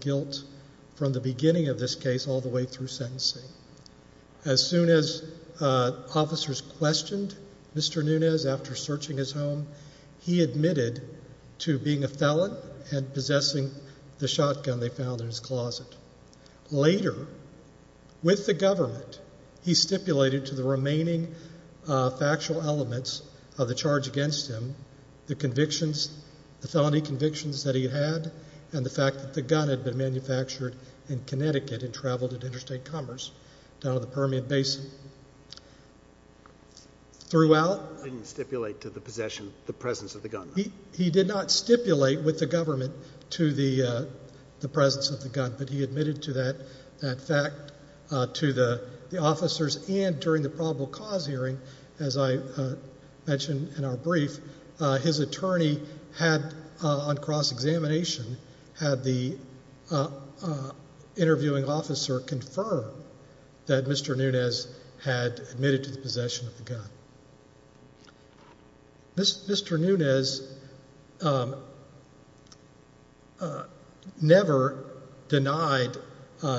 guilt from the beginning of this case all the way through sentencing. As soon as officers questioned Mr. Nunez after searching his home, he admitted to being a felon and possessing the shotgun they found in his closet. Later, with the government, he stipulated to the remaining factual elements of the charge against him, the convictions, the felony convictions that he had, and the fact that the gun had been manufactured in Connecticut and traveled to interstate commerce down in the Permian Basin. He didn't stipulate to the possession, the presence of the gun? He did not stipulate with the government to the presence of the gun, but he admitted to that fact to the officers, and during the probable cause hearing, as I mentioned in our brief, his attorney had, on cross-examination, had the interviewing officer confirm that Mr. Nunez had admitted to the possession of the gun. Mr. Nunez never denied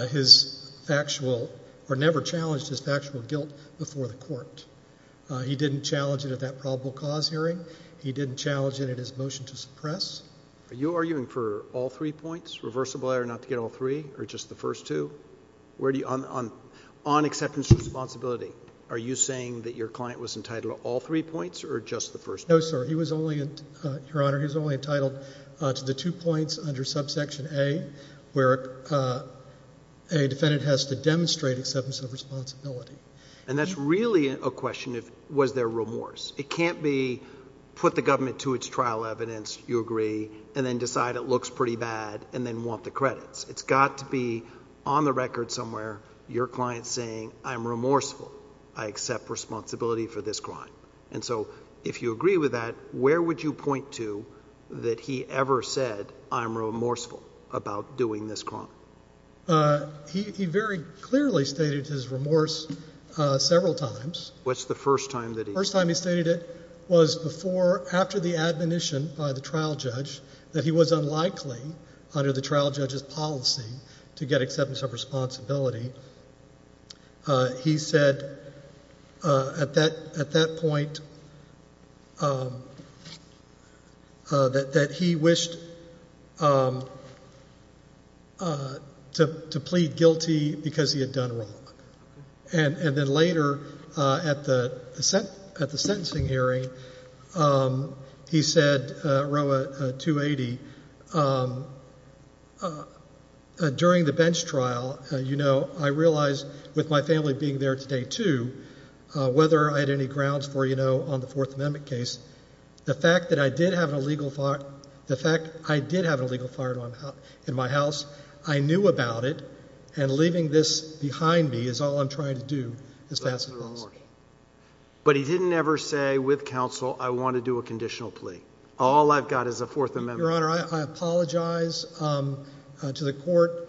his factual, or never challenged his factual guilt before the court. He didn't challenge it at that probable cause hearing. He didn't challenge it at his motion to suppress. Are you arguing for all three points, reversible error not to get all three, or just the first two? On acceptance of responsibility, are you saying that your client was entitled to all three points, or just the first two? No, sir. He was only, Your Honor, he was only entitled to the two points under subsection A, And that's really a question of was there remorse. It can't be put the government to its trial evidence, you agree, and then decide it looks pretty bad, and then want the credits. It's got to be on the record somewhere, your client saying, I'm remorseful. I accept responsibility for this crime. And so if you agree with that, where would you point to that he ever said, I'm remorseful about doing this crime? He very clearly stated his remorse several times. What's the first time that he? The first time he stated it was before, after the admonition by the trial judge that he was unlikely, under the trial judge's policy, to get acceptance of responsibility. He said at that point that he wished to plead guilty because he had done wrong. And then later at the sentencing hearing, he said, Roa, 280, During the bench trial, you know, I realized with my family being there today, too, whether I had any grounds for, you know, on the Fourth Amendment case, the fact that I did have an illegal, the fact I did have an illegal firearm in my house, I knew about it, and leaving this behind me is all I'm trying to do is to ask for remorse. But he didn't ever say with counsel, I want to do a conditional plea. All I've got is a Fourth Amendment. Your Honor, I apologize to the court.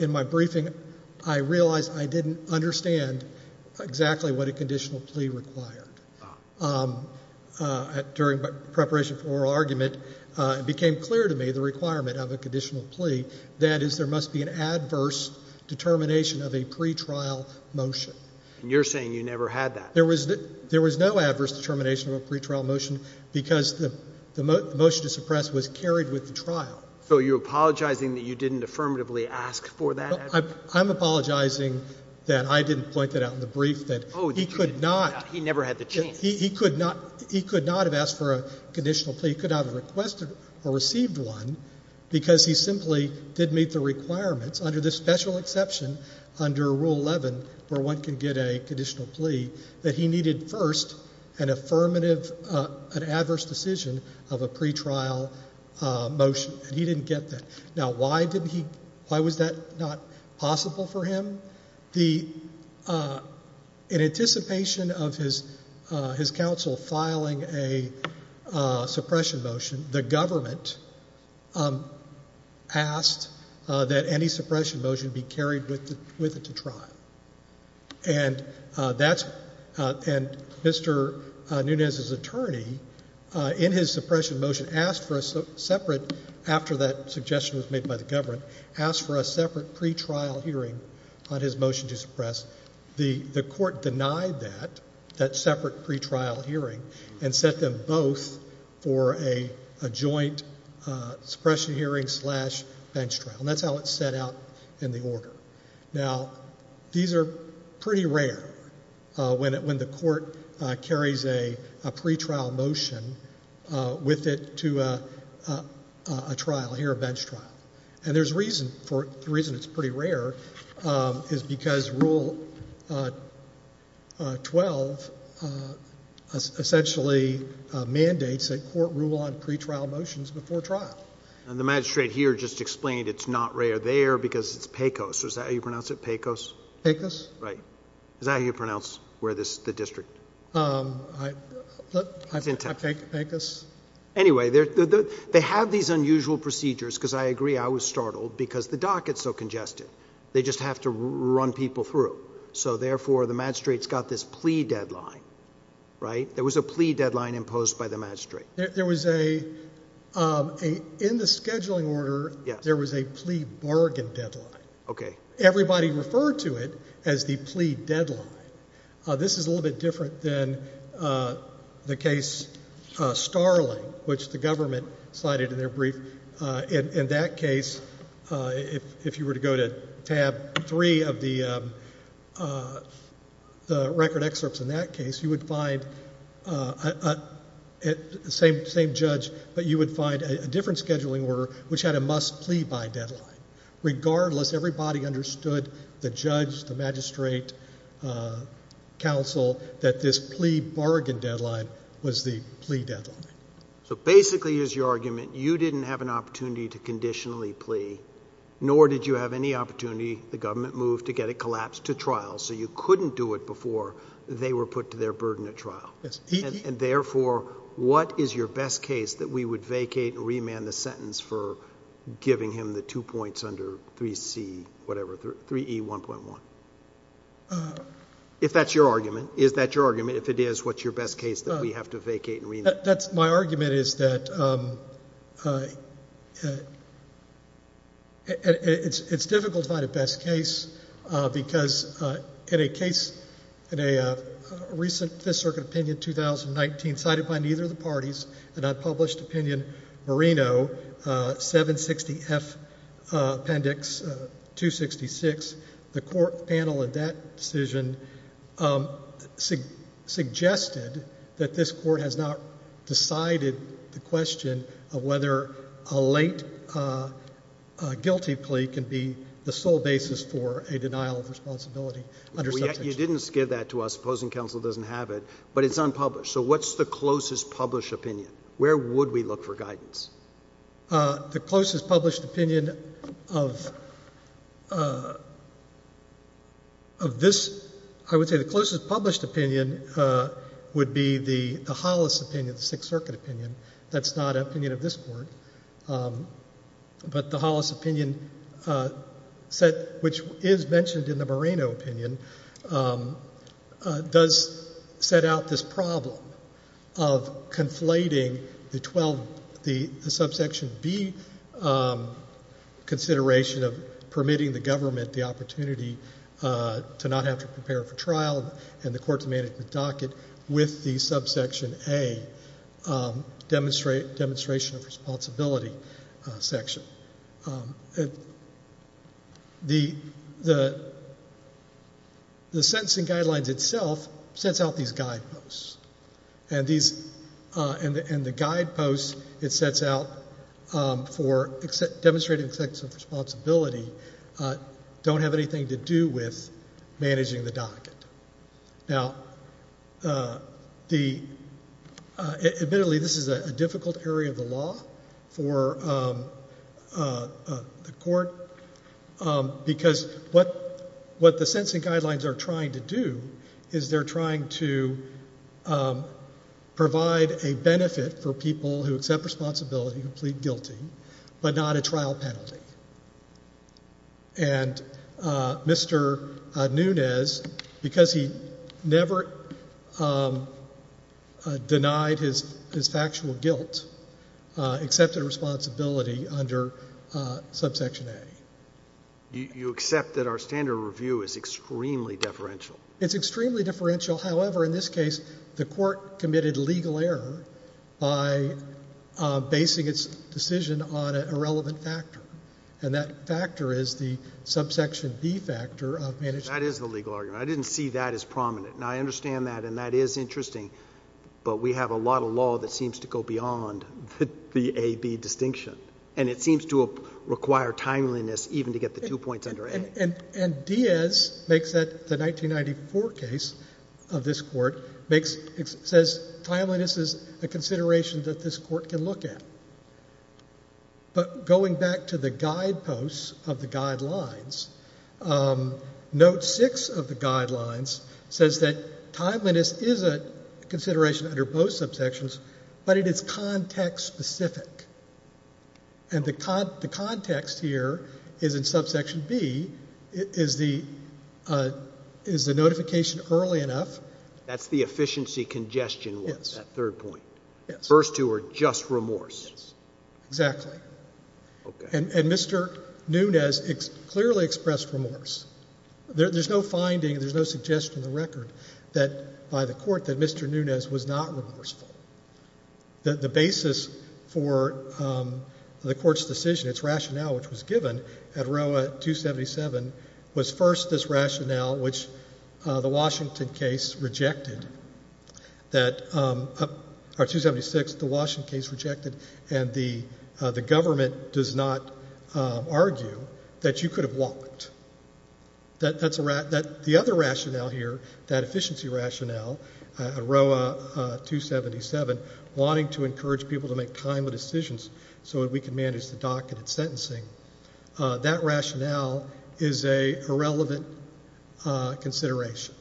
In my briefing, I realized I didn't understand exactly what a conditional plea required. During preparation for oral argument, it became clear to me the requirement of a conditional plea that is there must be an adverse determination of a pretrial motion. And you're saying you never had that? There was no adverse determination of a pretrial motion because the motion to suppress was carried with the trial. So you're apologizing that you didn't affirmatively ask for that? I'm apologizing that I didn't point that out in the brief, that he could not. He never had the chance. He could not have asked for a conditional plea. He could not have requested or received one because he simply didn't meet the requirements, under this special exception under Rule 11 where one can get a conditional plea, that he needed first an affirmative adverse decision of a pretrial motion. He didn't get that. Now, why was that not possible for him? In anticipation of his counsel filing a suppression motion, the government asked that any suppression motion be carried with it to trial. And Mr. Nunez's attorney, in his suppression motion, asked for a separate, after that suggestion was made by the government, asked for a separate pretrial hearing on his motion to suppress. The court denied that, that separate pretrial hearing, and set them both for a joint suppression hearing slash bench trial. And that's how it's set out in the order. Now, these are pretty rare when the court carries a pretrial motion with it to a trial, a bench trial. And the reason it's pretty rare is because Rule 12 essentially mandates that court rule on pretrial motions before trial. And the magistrate here just explained it's not rare there because it's PECOS. Is that how you pronounce it, PECOS? PECOS. Right. Is that how you pronounce the district? PECOS. Anyway, they have these unusual procedures, because I agree, I was startled, because the dockets are congested. They just have to run people through. So, therefore, the magistrate's got this plea deadline, right? There was a plea deadline imposed by the magistrate. There was a, in the scheduling order, there was a plea bargain deadline. Okay. Everybody referred to it as the plea deadline. This is a little bit different than the case Starling, which the government cited in their brief. In that case, if you were to go to Tab 3 of the record excerpts in that case, you would find the same judge, but you would find a different scheduling order, which had a must-plea-by deadline. Regardless, everybody understood, the judge, the magistrate, counsel, that this plea bargain deadline was the plea deadline. So, basically, here's your argument. You didn't have an opportunity to conditionally plea, nor did you have any opportunity, the government moved, to get it collapsed to trial, so you couldn't do it before they were put to their burden at trial. Yes. And, therefore, what is your best case that we would vacate and remand the sentence for giving him the two points under 3C, whatever, 3E1.1? If that's your argument. Is that your argument? If it is, what's your best case that we have to vacate and remand? My argument is that it's difficult to find a best case because, in a case, in a recent Fifth Circuit opinion, 2019, cited by neither of the parties, an unpublished opinion, Marino, 760F Appendix 266. The court panel in that decision suggested that this court has not decided the question of whether a late guilty plea can be the sole basis for a denial of responsibility. You didn't skid that to us. Opposing counsel doesn't have it, but it's unpublished. So what's the closest published opinion? Where would we look for guidance? The closest published opinion of this — I would say the closest published opinion would be the Hollis opinion, the Sixth Circuit opinion. That's not an opinion of this court. But the Hollis opinion, which is mentioned in the Marino opinion, does set out this problem of conflating the subsection B consideration of permitting the government the opportunity to not have to prepare for trial and the court's management docket with the subsection A demonstration of responsibility section. The sentencing guidelines itself sets out these guideposts, and the guideposts it sets out for demonstrating acceptance of responsibility don't have anything to do with managing the docket. Now, admittedly, this is a difficult area of the law for the court, because what the sentencing guidelines are trying to do is they're trying to provide a benefit for people who accept responsibility to plead guilty, but not a trial penalty. And Mr. Nunes, because he never denied his factual guilt, accepted responsibility under subsection A. You accept that our standard of review is extremely deferential? It's extremely differential. However, in this case, the court committed legal error by basing its decision on an irrelevant factor, and that factor is the subsection B factor of management. That is the legal argument. I didn't see that as prominent. Now, I understand that, and that is interesting, but we have a lot of law that seems to go beyond the A-B distinction, and it seems to require timeliness even to get the two points under A. And Diaz makes that the 1994 case of this court says timeliness is a consideration that this court can look at. But going back to the guideposts of the guidelines, note 6 of the guidelines says that timeliness is a consideration under both subsections, but it is context-specific. And the context here is in subsection B is the notification early enough. That's the efficiency congestion one, that third point. Yes. The first two are just remorse. Yes. Exactly. Okay. And Mr. Nunes clearly expressed remorse. There's no finding, there's no suggestion on the record that by the court that Mr. Nunes was not remorseful. The basis for the court's decision, its rationale, which was given at row 277, was first this rationale, which the Washington case rejected, that 276, the Washington case rejected, and the government does not argue that you could have walked. The other rationale here, that efficiency rationale, at row 277, wanting to encourage people to make timely decisions so that we can manage the docketed sentencing, that rationale is a relevant consideration.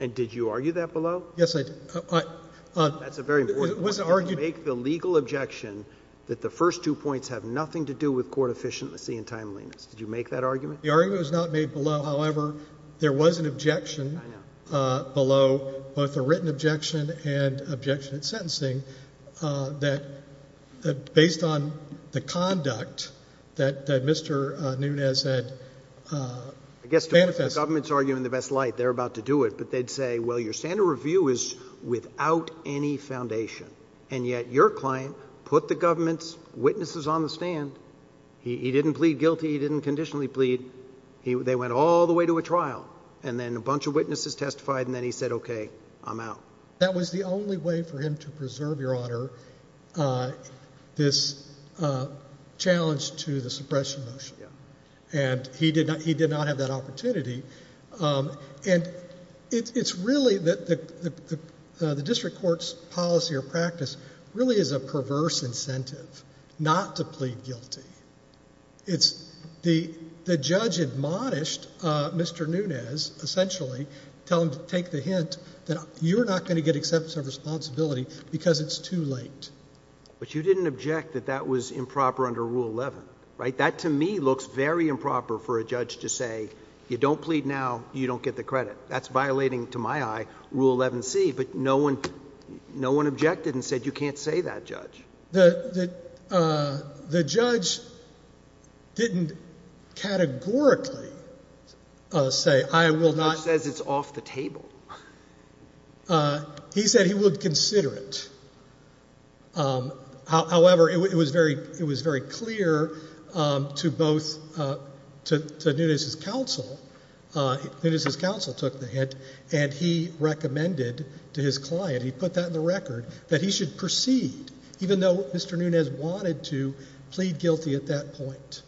And did you argue that below? Yes, I did. That's a very important point. You make the legal objection that the first two points have nothing to do with court efficiency and timeliness. Did you make that argument? The argument was not made below. However, there was an objection below, both a written objection and objection at sentencing, that based on the conduct that Mr. Nunes had manifested. I guess the government's arguing the best light. They're about to do it, but they'd say, well, your standard review is without any foundation, and yet your client put the government's witnesses on the stand. He didn't plead guilty. He didn't conditionally plead. They went all the way to a trial, and then a bunch of witnesses testified, and then he said, okay, I'm out. That was the only way for him to preserve, Your Honor, this challenge to the suppression motion. And he did not have that opportunity. And it's really the district court's policy or practice really is a perverse incentive not to plead guilty. It's the judge admonished Mr. Nunes, essentially, tell him to take the hint that you're not going to get acceptance of responsibility because it's too late. But you didn't object that that was improper under Rule 11, right? That, to me, looks very improper for a judge to say you don't plead now, you don't get the credit. That's violating, to my eye, Rule 11C. But no one objected and said you can't say that, Judge. The judge didn't categorically say I will not. The judge says it's off the table. He said he would consider it. However, it was very clear to both, to Nunes' counsel. Nunes' counsel took the hint, and he recommended to his client, he put that in the record, that he should proceed. Even though Mr. Nunes wanted to plead guilty at that point.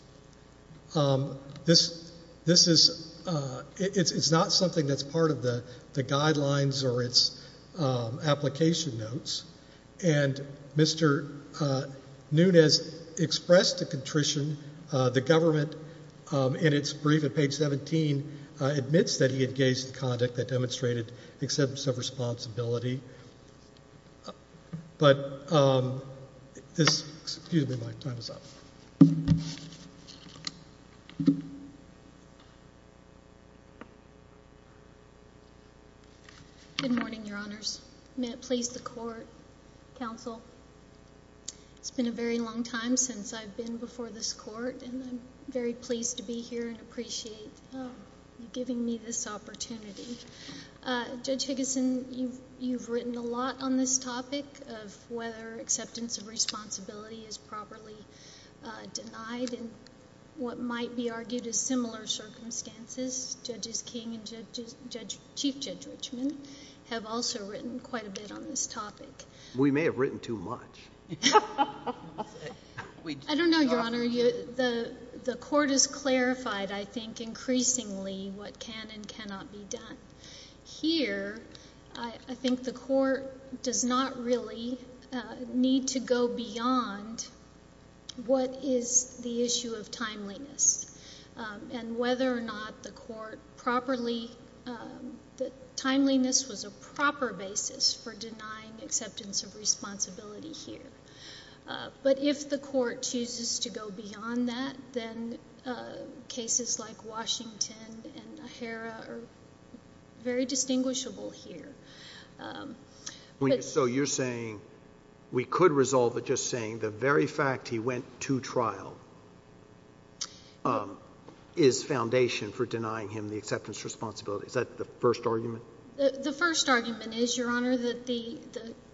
This is not something that's part of the guidelines or its application notes. And Mr. Nunes expressed the contrition. The government, in its brief at page 17, admits that he engaged in conduct that demonstrated acceptance of responsibility. But this, excuse me, my time is up. Good morning, Your Honors. May it please the court, counsel. It's been a very long time since I've been before this court, and I'm very pleased to be here and appreciate you giving me this opportunity. Judge Higgison, you've written a lot on this topic of whether acceptance of responsibility is properly denied. And what might be argued as similar circumstances, Judge King and Chief Judge Richman have also written quite a bit on this topic. We may have written too much. I don't know, Your Honor. The court has clarified, I think, increasingly what can and cannot be done. Here, I think the court does not really need to go beyond what is the issue of timeliness. And whether or not the court properly – timeliness was a proper basis for denying acceptance of responsibility here. But if the court chooses to go beyond that, then cases like Washington and O'Hara are very distinguishable here. So you're saying we could resolve it just saying the very fact he went to trial is foundation for denying him the acceptance of responsibility. Is that the first argument? The first argument is, Your Honor, that the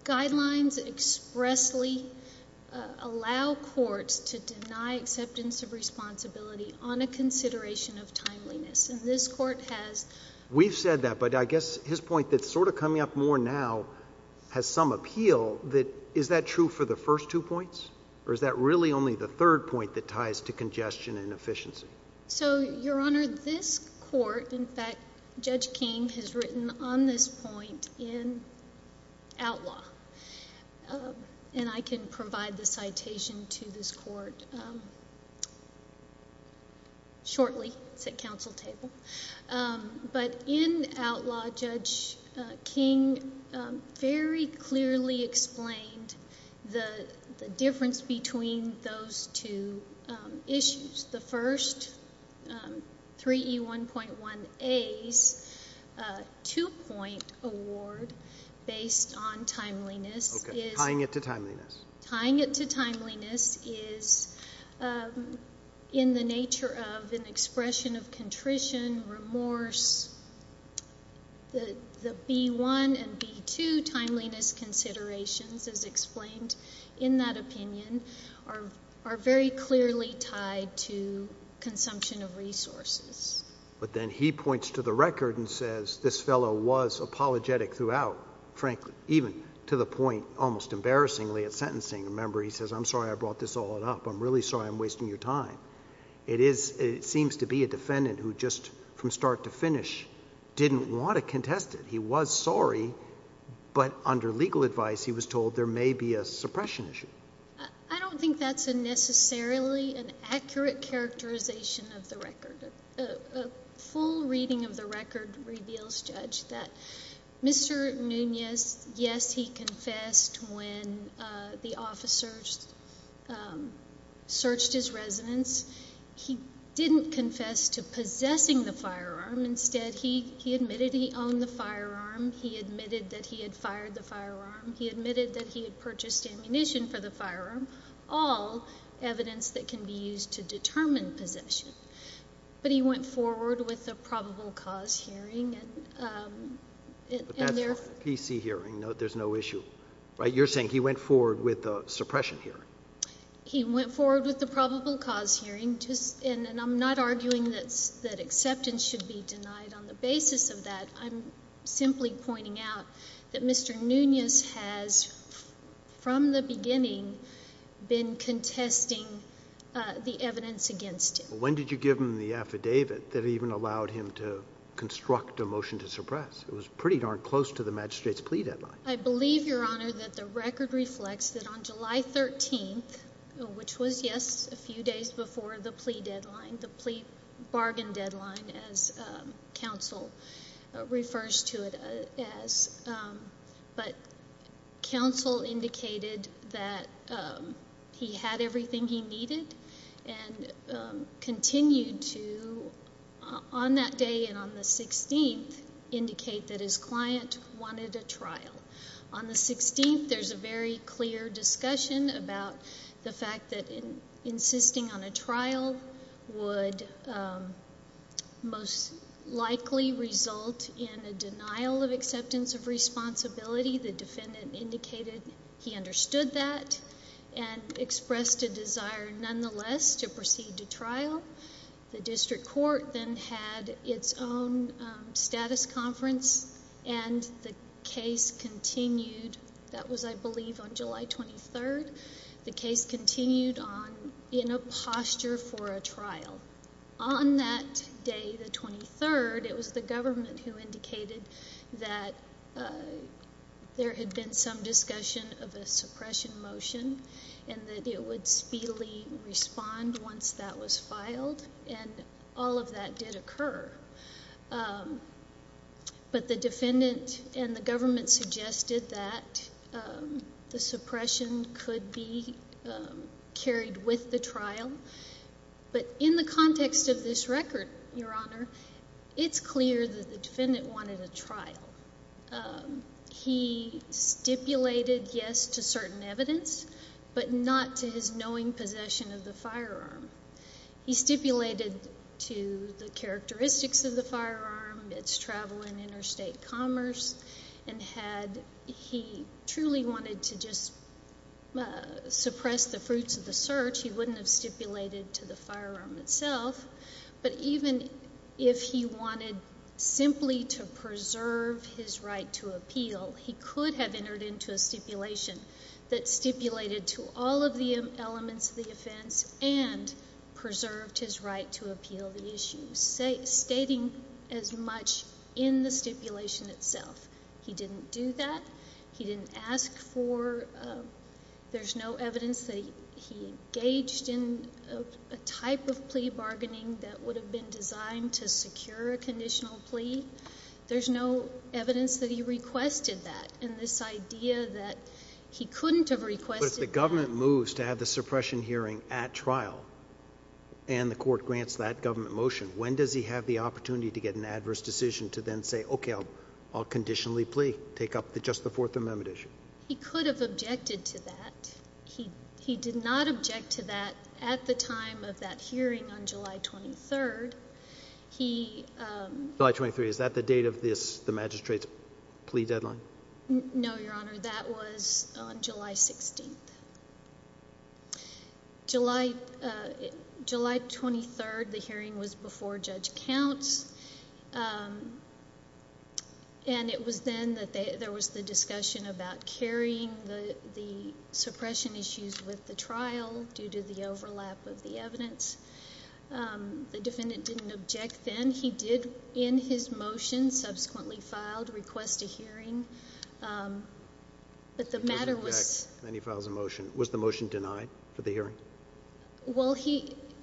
guidelines expressly allow courts to deny acceptance of responsibility on a consideration of timeliness. And this court has – I'm sorry to say that, but I guess his point that's sort of coming up more now has some appeal. Is that true for the first two points? Or is that really only the third point that ties to congestion and efficiency? So, Your Honor, this court – in fact, Judge King has written on this point in outlaw. And I can provide the citation to this court shortly. It's at council table. But in outlaw, Judge King very clearly explained the difference between those two issues. The first, 3E1.1a's two-point award based on timeliness is – Okay. Tying it to timeliness. Tying it to timeliness is in the nature of an expression of contrition, remorse. The B1 and B2 timeliness considerations, as explained in that opinion, are very clearly tied to consumption of resources. But then he points to the record and says this fellow was apologetic throughout, frankly. Even to the point, almost embarrassingly, at sentencing. Remember, he says, I'm sorry I brought this all up. I'm really sorry I'm wasting your time. It seems to be a defendant who just from start to finish didn't want to contest it. He was sorry, but under legal advice he was told there may be a suppression issue. I don't think that's necessarily an accurate characterization of the record. A full reading of the record reveals, Judge, that Mr. Nunez, yes, he confessed when the officers searched his residence. He didn't confess to possessing the firearm. Instead, he admitted he owned the firearm. He admitted that he had fired the firearm. He admitted that he had purchased ammunition for the firearm. All evidence that can be used to determine possession. But he went forward with a probable cause hearing. That's fine. A PC hearing. There's no issue. You're saying he went forward with a suppression hearing. He went forward with a probable cause hearing. And I'm not arguing that acceptance should be denied on the basis of that. I'm simply pointing out that Mr. Nunez has, from the beginning, been contesting the evidence against him. When did you give him the affidavit that even allowed him to construct a motion to suppress? It was pretty darn close to the magistrate's plea deadline. I believe, Your Honor, that the record reflects that on July 13th, which was, yes, a few days before the plea deadline, the plea bargain deadline as counsel refers to it as, but counsel indicated that he had everything he needed and continued to, on that day and on the 16th, indicate that his client wanted a trial. On the 16th, there's a very clear discussion about the fact that the defendant indicated he understood that and expressed a desire, nonetheless, to proceed to trial. The district court then had its own status conference, and the case continued. That was, I believe, on July 23rd. The case continued in a posture for a trial. On that day, the 23rd, it was the government who indicated that there had been some discussion of a suppression motion and that it would speedily respond once that was filed, and all of that did occur. But the defendant and the government suggested that the suppression could be carried with the trial. But in the context of this record, Your Honor, it's clear that the defendant wanted a trial. He stipulated yes to certain evidence, but not to his knowing possession of the firearm. He stipulated to the characteristics of the firearm, its travel in interstate commerce, and had he truly wanted to just suppress the fruits of the search, he wouldn't have stipulated to the firearm itself. But even if he wanted simply to preserve his right to appeal, he could have entered into a stipulation that stipulated to all of the elements of the offense and preserved his right to appeal the issue, stating as much in the stipulation itself. He didn't do that. He didn't ask for, there's no evidence that he engaged in a type of plea bargaining that would have been designed to secure a conditional plea. There's no evidence that he requested that, and this idea that he couldn't have requested that. But if the government moves to have the suppression hearing at trial and the court grants that government motion, when does he have the opportunity to get an adverse decision to then say, okay, I'll conditionally plea, take up just the Fourth Amendment issue? He could have objected to that. He did not object to that at the time of that hearing on July 23rd. July 23rd, is that the date of the magistrate's plea deadline? No, Your Honor, that was on July 16th. July 23rd, the hearing was before Judge Counts, and it was then that there was the discussion about carrying the suppression issues with the trial due to the overlap of the evidence. The defendant didn't object then. He did, in his motion, subsequently filed, request a hearing. He doesn't object when he files a motion. Was the motion denied for the hearing? Well,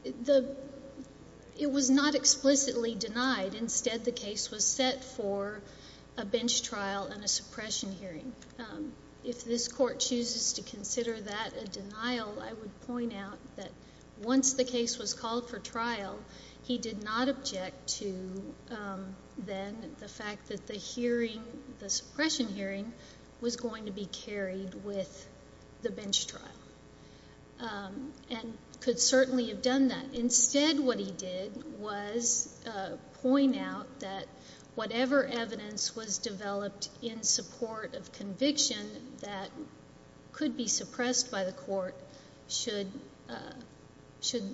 it was not explicitly denied. Instead, the case was set for a bench trial and a suppression hearing. If this court chooses to consider that a denial, I would point out that once the case was called for trial, he did not object to then the fact that the hearing, the suppression hearing, was going to be carried with the bench trial and could certainly have done that. Instead, what he did was point out that whatever evidence was developed in support of conviction that could be suppressed by the court should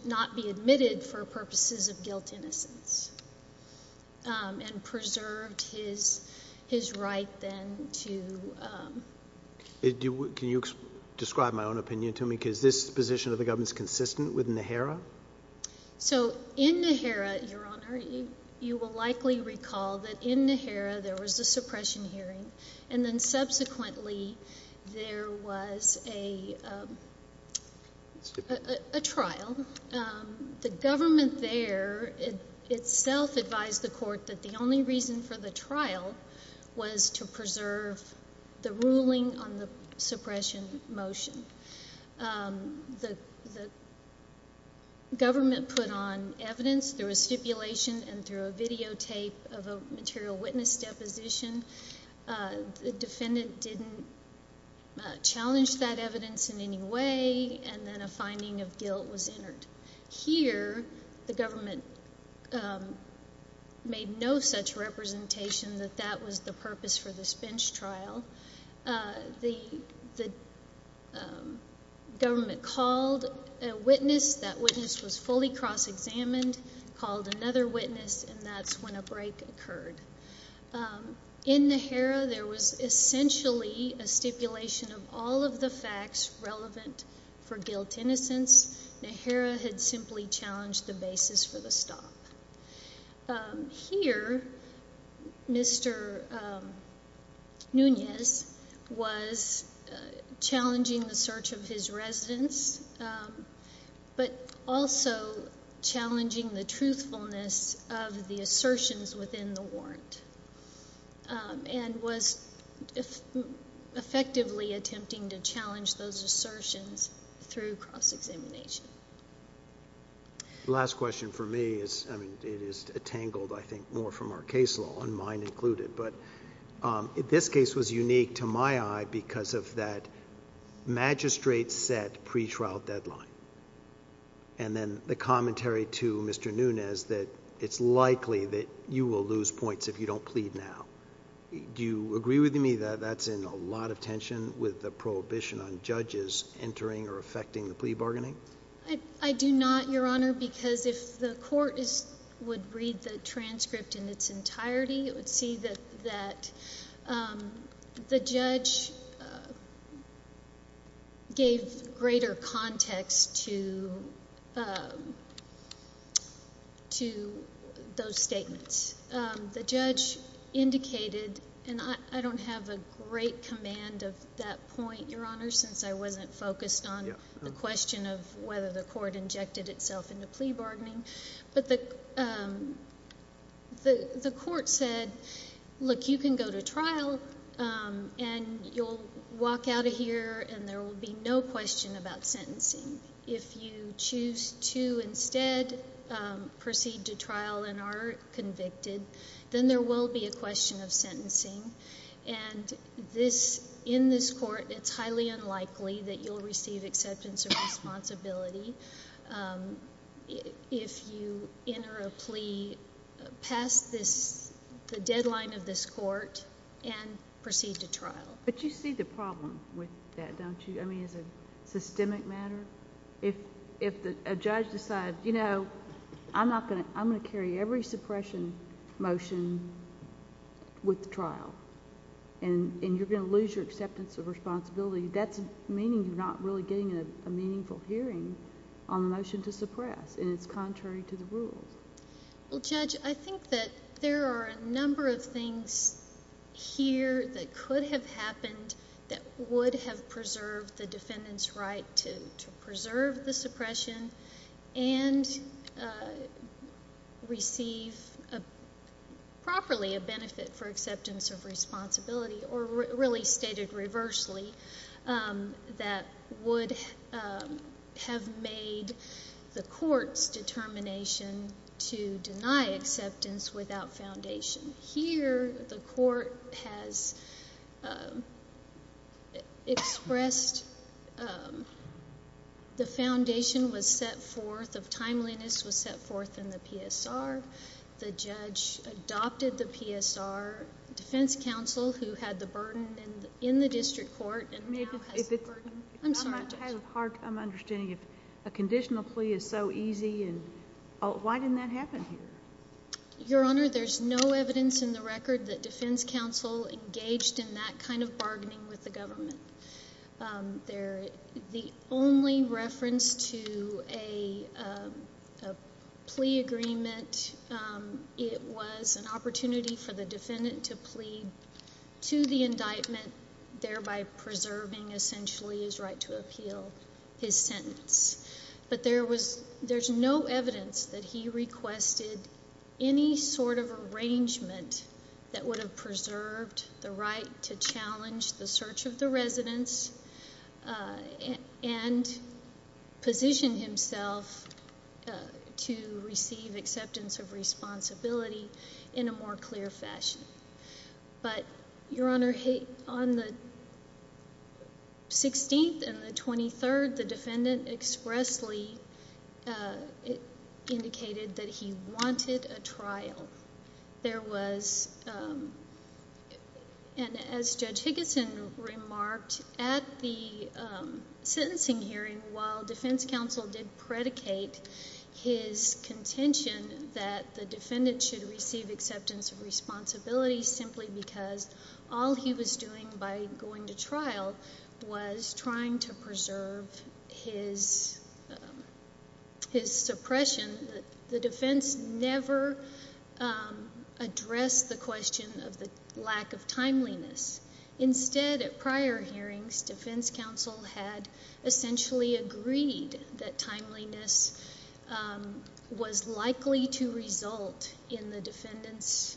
not be admitted for purposes of guilt innocence and preserved his right then to... Can you describe my own opinion to me? Is this position of the government consistent with NAHARA? So in NAHARA, Your Honor, you will likely recall that in NAHARA there was a suppression hearing, and then subsequently there was a trial. The government there itself advised the court that the only reason for the trial was to preserve the ruling on the suppression motion. The government put on evidence through a stipulation and through a videotape of a material witness deposition. The defendant didn't challenge that evidence in any way, and then a finding of guilt was entered. Here, the government made no such representation that that was the purpose for this bench trial. The government called a witness. That witness was fully cross-examined, called another witness, and that's when a break occurred. In NAHARA, there was essentially a stipulation of all of the facts relevant for guilt innocence. NAHARA had simply challenged the basis for the stop. Here, Mr. Nunez was challenging the search of his residence, but also challenging the truthfulness of the assertions within the warrant and was effectively attempting to challenge those assertions through cross-examination. The last question for me is, I mean, it is entangled, I think, more from our case law and mine included, but this case was unique to my eye because of that magistrate-set pretrial deadline and then the commentary to Mr. Nunez that it's likely that you will lose points if you don't plead now. Do you agree with me that that's in a lot of tension with the prohibition on judges entering or affecting the plea bargaining? I do not, Your Honor, because if the court would read the transcript in its entirety, it would see that the judge gave greater context to those statements. The judge indicated, and I don't have a great command of that point, Your Honor, since I wasn't focused on the question of whether the court injected itself into plea bargaining, but the court said, look, you can go to trial and you'll walk out of here and there will be no question about sentencing. If you choose to instead proceed to trial and are convicted, then there will be a question of sentencing, and in this court it's highly unlikely that you'll receive acceptance or responsibility if you enter a plea past the deadline of this court and proceed to trial. But you see the problem with that, don't you, I mean, as a systemic matter? If a judge decides, you know, I'm going to carry every suppression motion with the trial and you're going to lose your acceptance of responsibility, that's meaning you're not really getting a meaningful hearing on the motion to suppress and it's contrary to the rules. Well, Judge, I think that there are a number of things here that could have happened that would have preserved the defendant's right to preserve the suppression and receive properly a benefit for acceptance of responsibility or really stated reversely that would have made the court's determination to deny acceptance without foundation. Here the court has expressed the foundation was set forth, of timeliness was set forth in the PSR. The judge adopted the PSR. Defense counsel who had the burden in the district court and now has the burden. I'm sorry, Judge. If I'm not out of heart, I'm understanding if a conditional plea is so easy. Why didn't that happen here? Your Honor, there's no evidence in the record that defense counsel engaged in that kind of bargaining with the government. The only reference to a plea agreement, it was an opportunity for the defendant to plead to the indictment, thereby preserving essentially his right to appeal his sentence. But there's no evidence that he requested any sort of arrangement that would have preserved the right to challenge the search of the residence and position himself to receive acceptance of responsibility in a more clear fashion. But, Your Honor, on the 16th and the 23rd, the defendant expressly indicated that he wanted a trial. There was, and as Judge Higginson remarked, at the sentencing hearing, while defense counsel did predicate his contention that the defendant should receive acceptance of responsibility simply because all he was doing by going to trial was trying to preserve his suppression, the defense never addressed the question of the lack of timeliness. Instead, at prior hearings, defense counsel had essentially agreed that timeliness was likely to result in the defendant's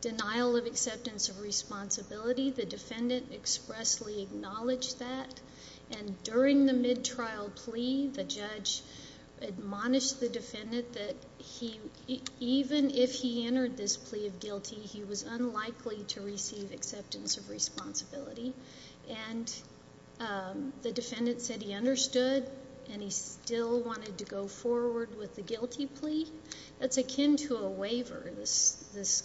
denial of acceptance of responsibility. The defendant expressly acknowledged that. And during the mid-trial plea, the judge admonished the defendant that even if he entered this plea of guilty, he was unlikely to receive acceptance of responsibility. And the defendant said he understood and he still wanted to go forward with the guilty plea. That's akin to a waiver, this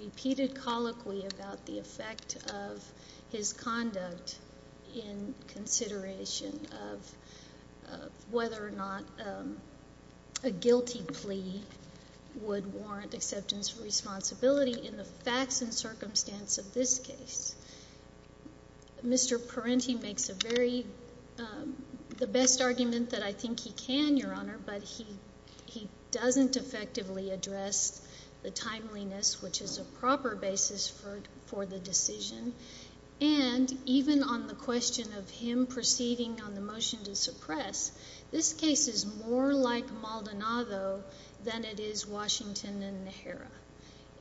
repeated colloquy about the effect of his conduct in consideration of whether or not a guilty plea would warrant acceptance of responsibility in the facts and circumstance of this case. Mr. Parenti makes the best argument that I think he can, Your Honor, but he doesn't effectively address the timeliness, which is a proper basis for the decision. And even on the question of him proceeding on the motion to suppress, this case is more like Maldonado than it is Washington and Najera.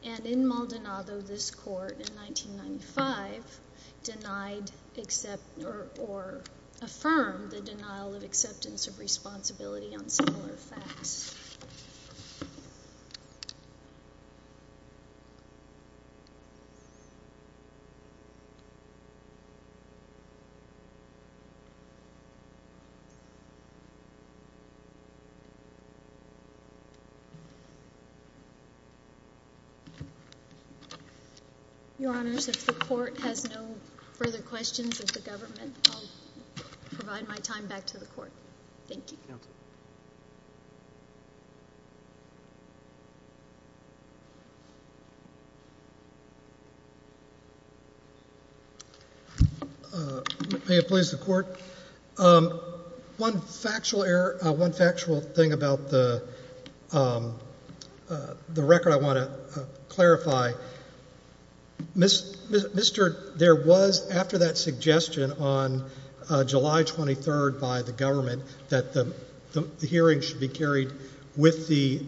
And in Maldonado, this court in 1995 denied or affirmed the denial of acceptance of responsibility on similar facts. Your Honors, if the court has no further questions of the government, I'll provide my time back to the court. Thank you. May it please the court. One factual error, one factual thing about the record I want to clarify. Mr. There was, after that suggestion on July 23rd by the government that the hearing should be carried with the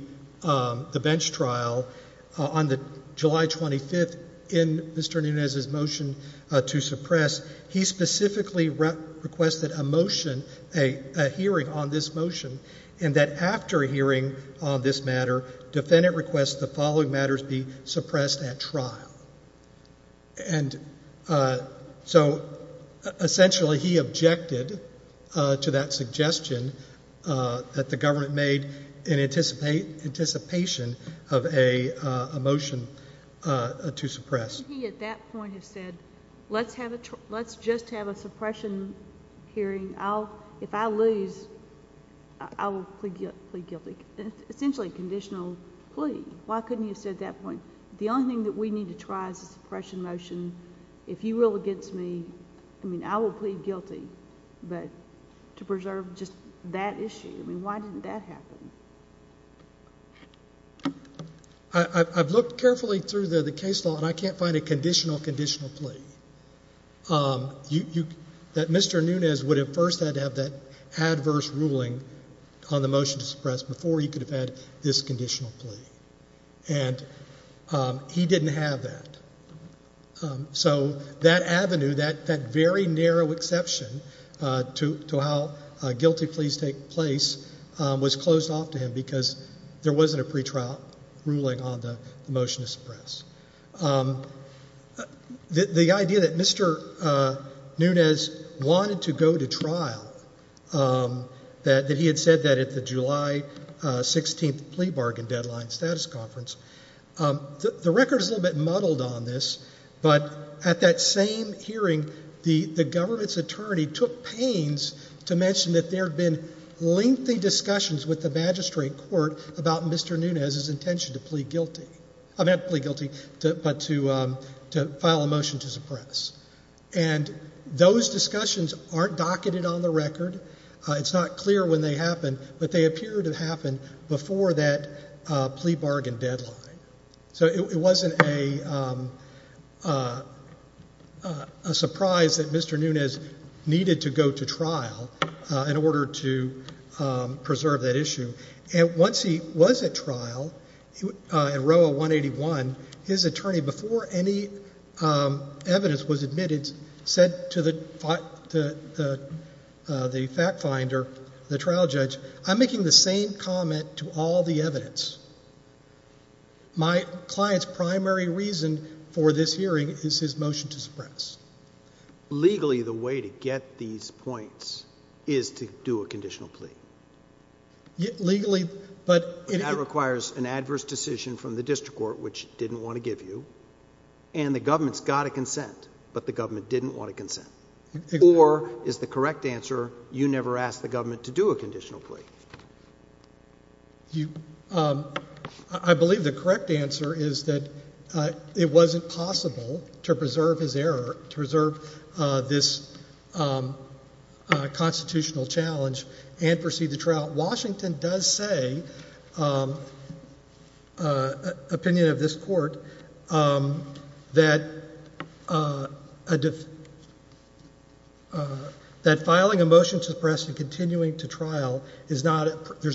bench trial, on the July 25th in Mr. Nunez's motion to suppress, he specifically requested a motion, a hearing on this motion, and that after a hearing on this matter, defendant requests the following matters be suppressed at trial. And so essentially he objected to that suggestion that the government made in anticipation of a motion to suppress. Couldn't he at that point have said, let's just have a suppression hearing. If I lose, I will plead guilty. Essentially a conditional plea. Why couldn't he have said at that point, the only thing that we need to try is a suppression motion. If you rule against me, I mean, I will plead guilty. But to preserve just that issue, I mean, why didn't that happen? I've looked carefully through the case law, and I can't find a conditional, conditional plea. That Mr. Nunez would have first had to have that adverse ruling on the motion to suppress before he could have had this conditional plea. And he didn't have that. So that avenue, that very narrow exception to how guilty pleas take place was closed off to him because there wasn't a pretrial ruling on the motion to suppress. The idea that Mr. Nunez wanted to go to trial, that he had said that at the July 16th plea bargain deadline status conference, the record is a little bit muddled on this, but at that same hearing, the government's attorney took pains to mention that there had been lengthy discussions with the magistrate court about Mr. Nunez's intention to plead guilty. Not to plead guilty, but to file a motion to suppress. And those discussions aren't docketed on the record. It's not clear when they happened, but they appear to have happened before that plea bargain deadline. So it wasn't a surprise that Mr. Nunez needed to go to trial in order to preserve that issue. And once he was at trial, in row 181, his attorney, before any evidence was admitted, said to the fact finder, the trial judge, I'm making the same comment to all the evidence. My client's primary reason for this hearing is his motion to suppress. Legally, the way to get these points is to do a conditional plea. Legally, but it requires an adverse decision from the district court, which it didn't want to give you, and the government's got to consent, but the government didn't want to consent. Or is the correct answer you never asked the government to do a conditional plea? I believe the correct answer is that it wasn't possible to preserve his error, to preserve this constitutional challenge and proceed to trial. Now, Washington does say, opinion of this court, that filing a motion to suppress and continuing to trial, there's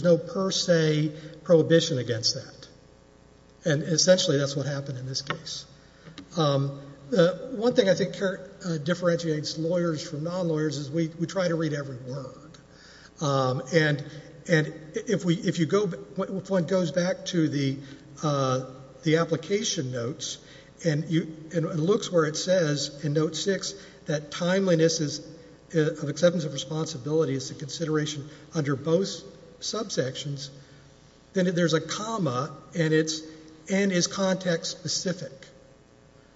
no per se prohibition against that, and essentially that's what happened in this case. One thing I think differentiates lawyers from non-lawyers is we try to read every word. And if one goes back to the application notes and looks where it says in note six that timeliness of acceptance of responsibility is the consideration under both subsections, then there's a comma and it's, and is context specific.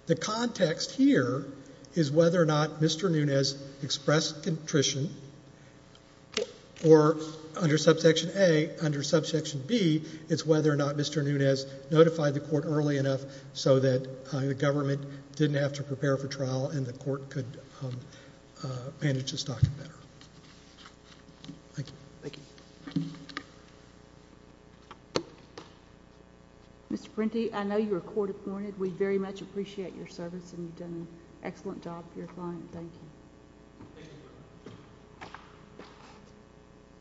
The context here is whether or not Mr. Nunez expressed contrition, or under subsection A, under subsection B, it's whether or not Mr. Nunez notified the court early enough so that the government didn't have to prepare for trial and the court could manage the stocking better. Thank you. Thank you. Thank you. Mr. Prenti, I know you're court-appointed. We very much appreciate your service, and you've done an excellent job for your client. Thank you. Thank you.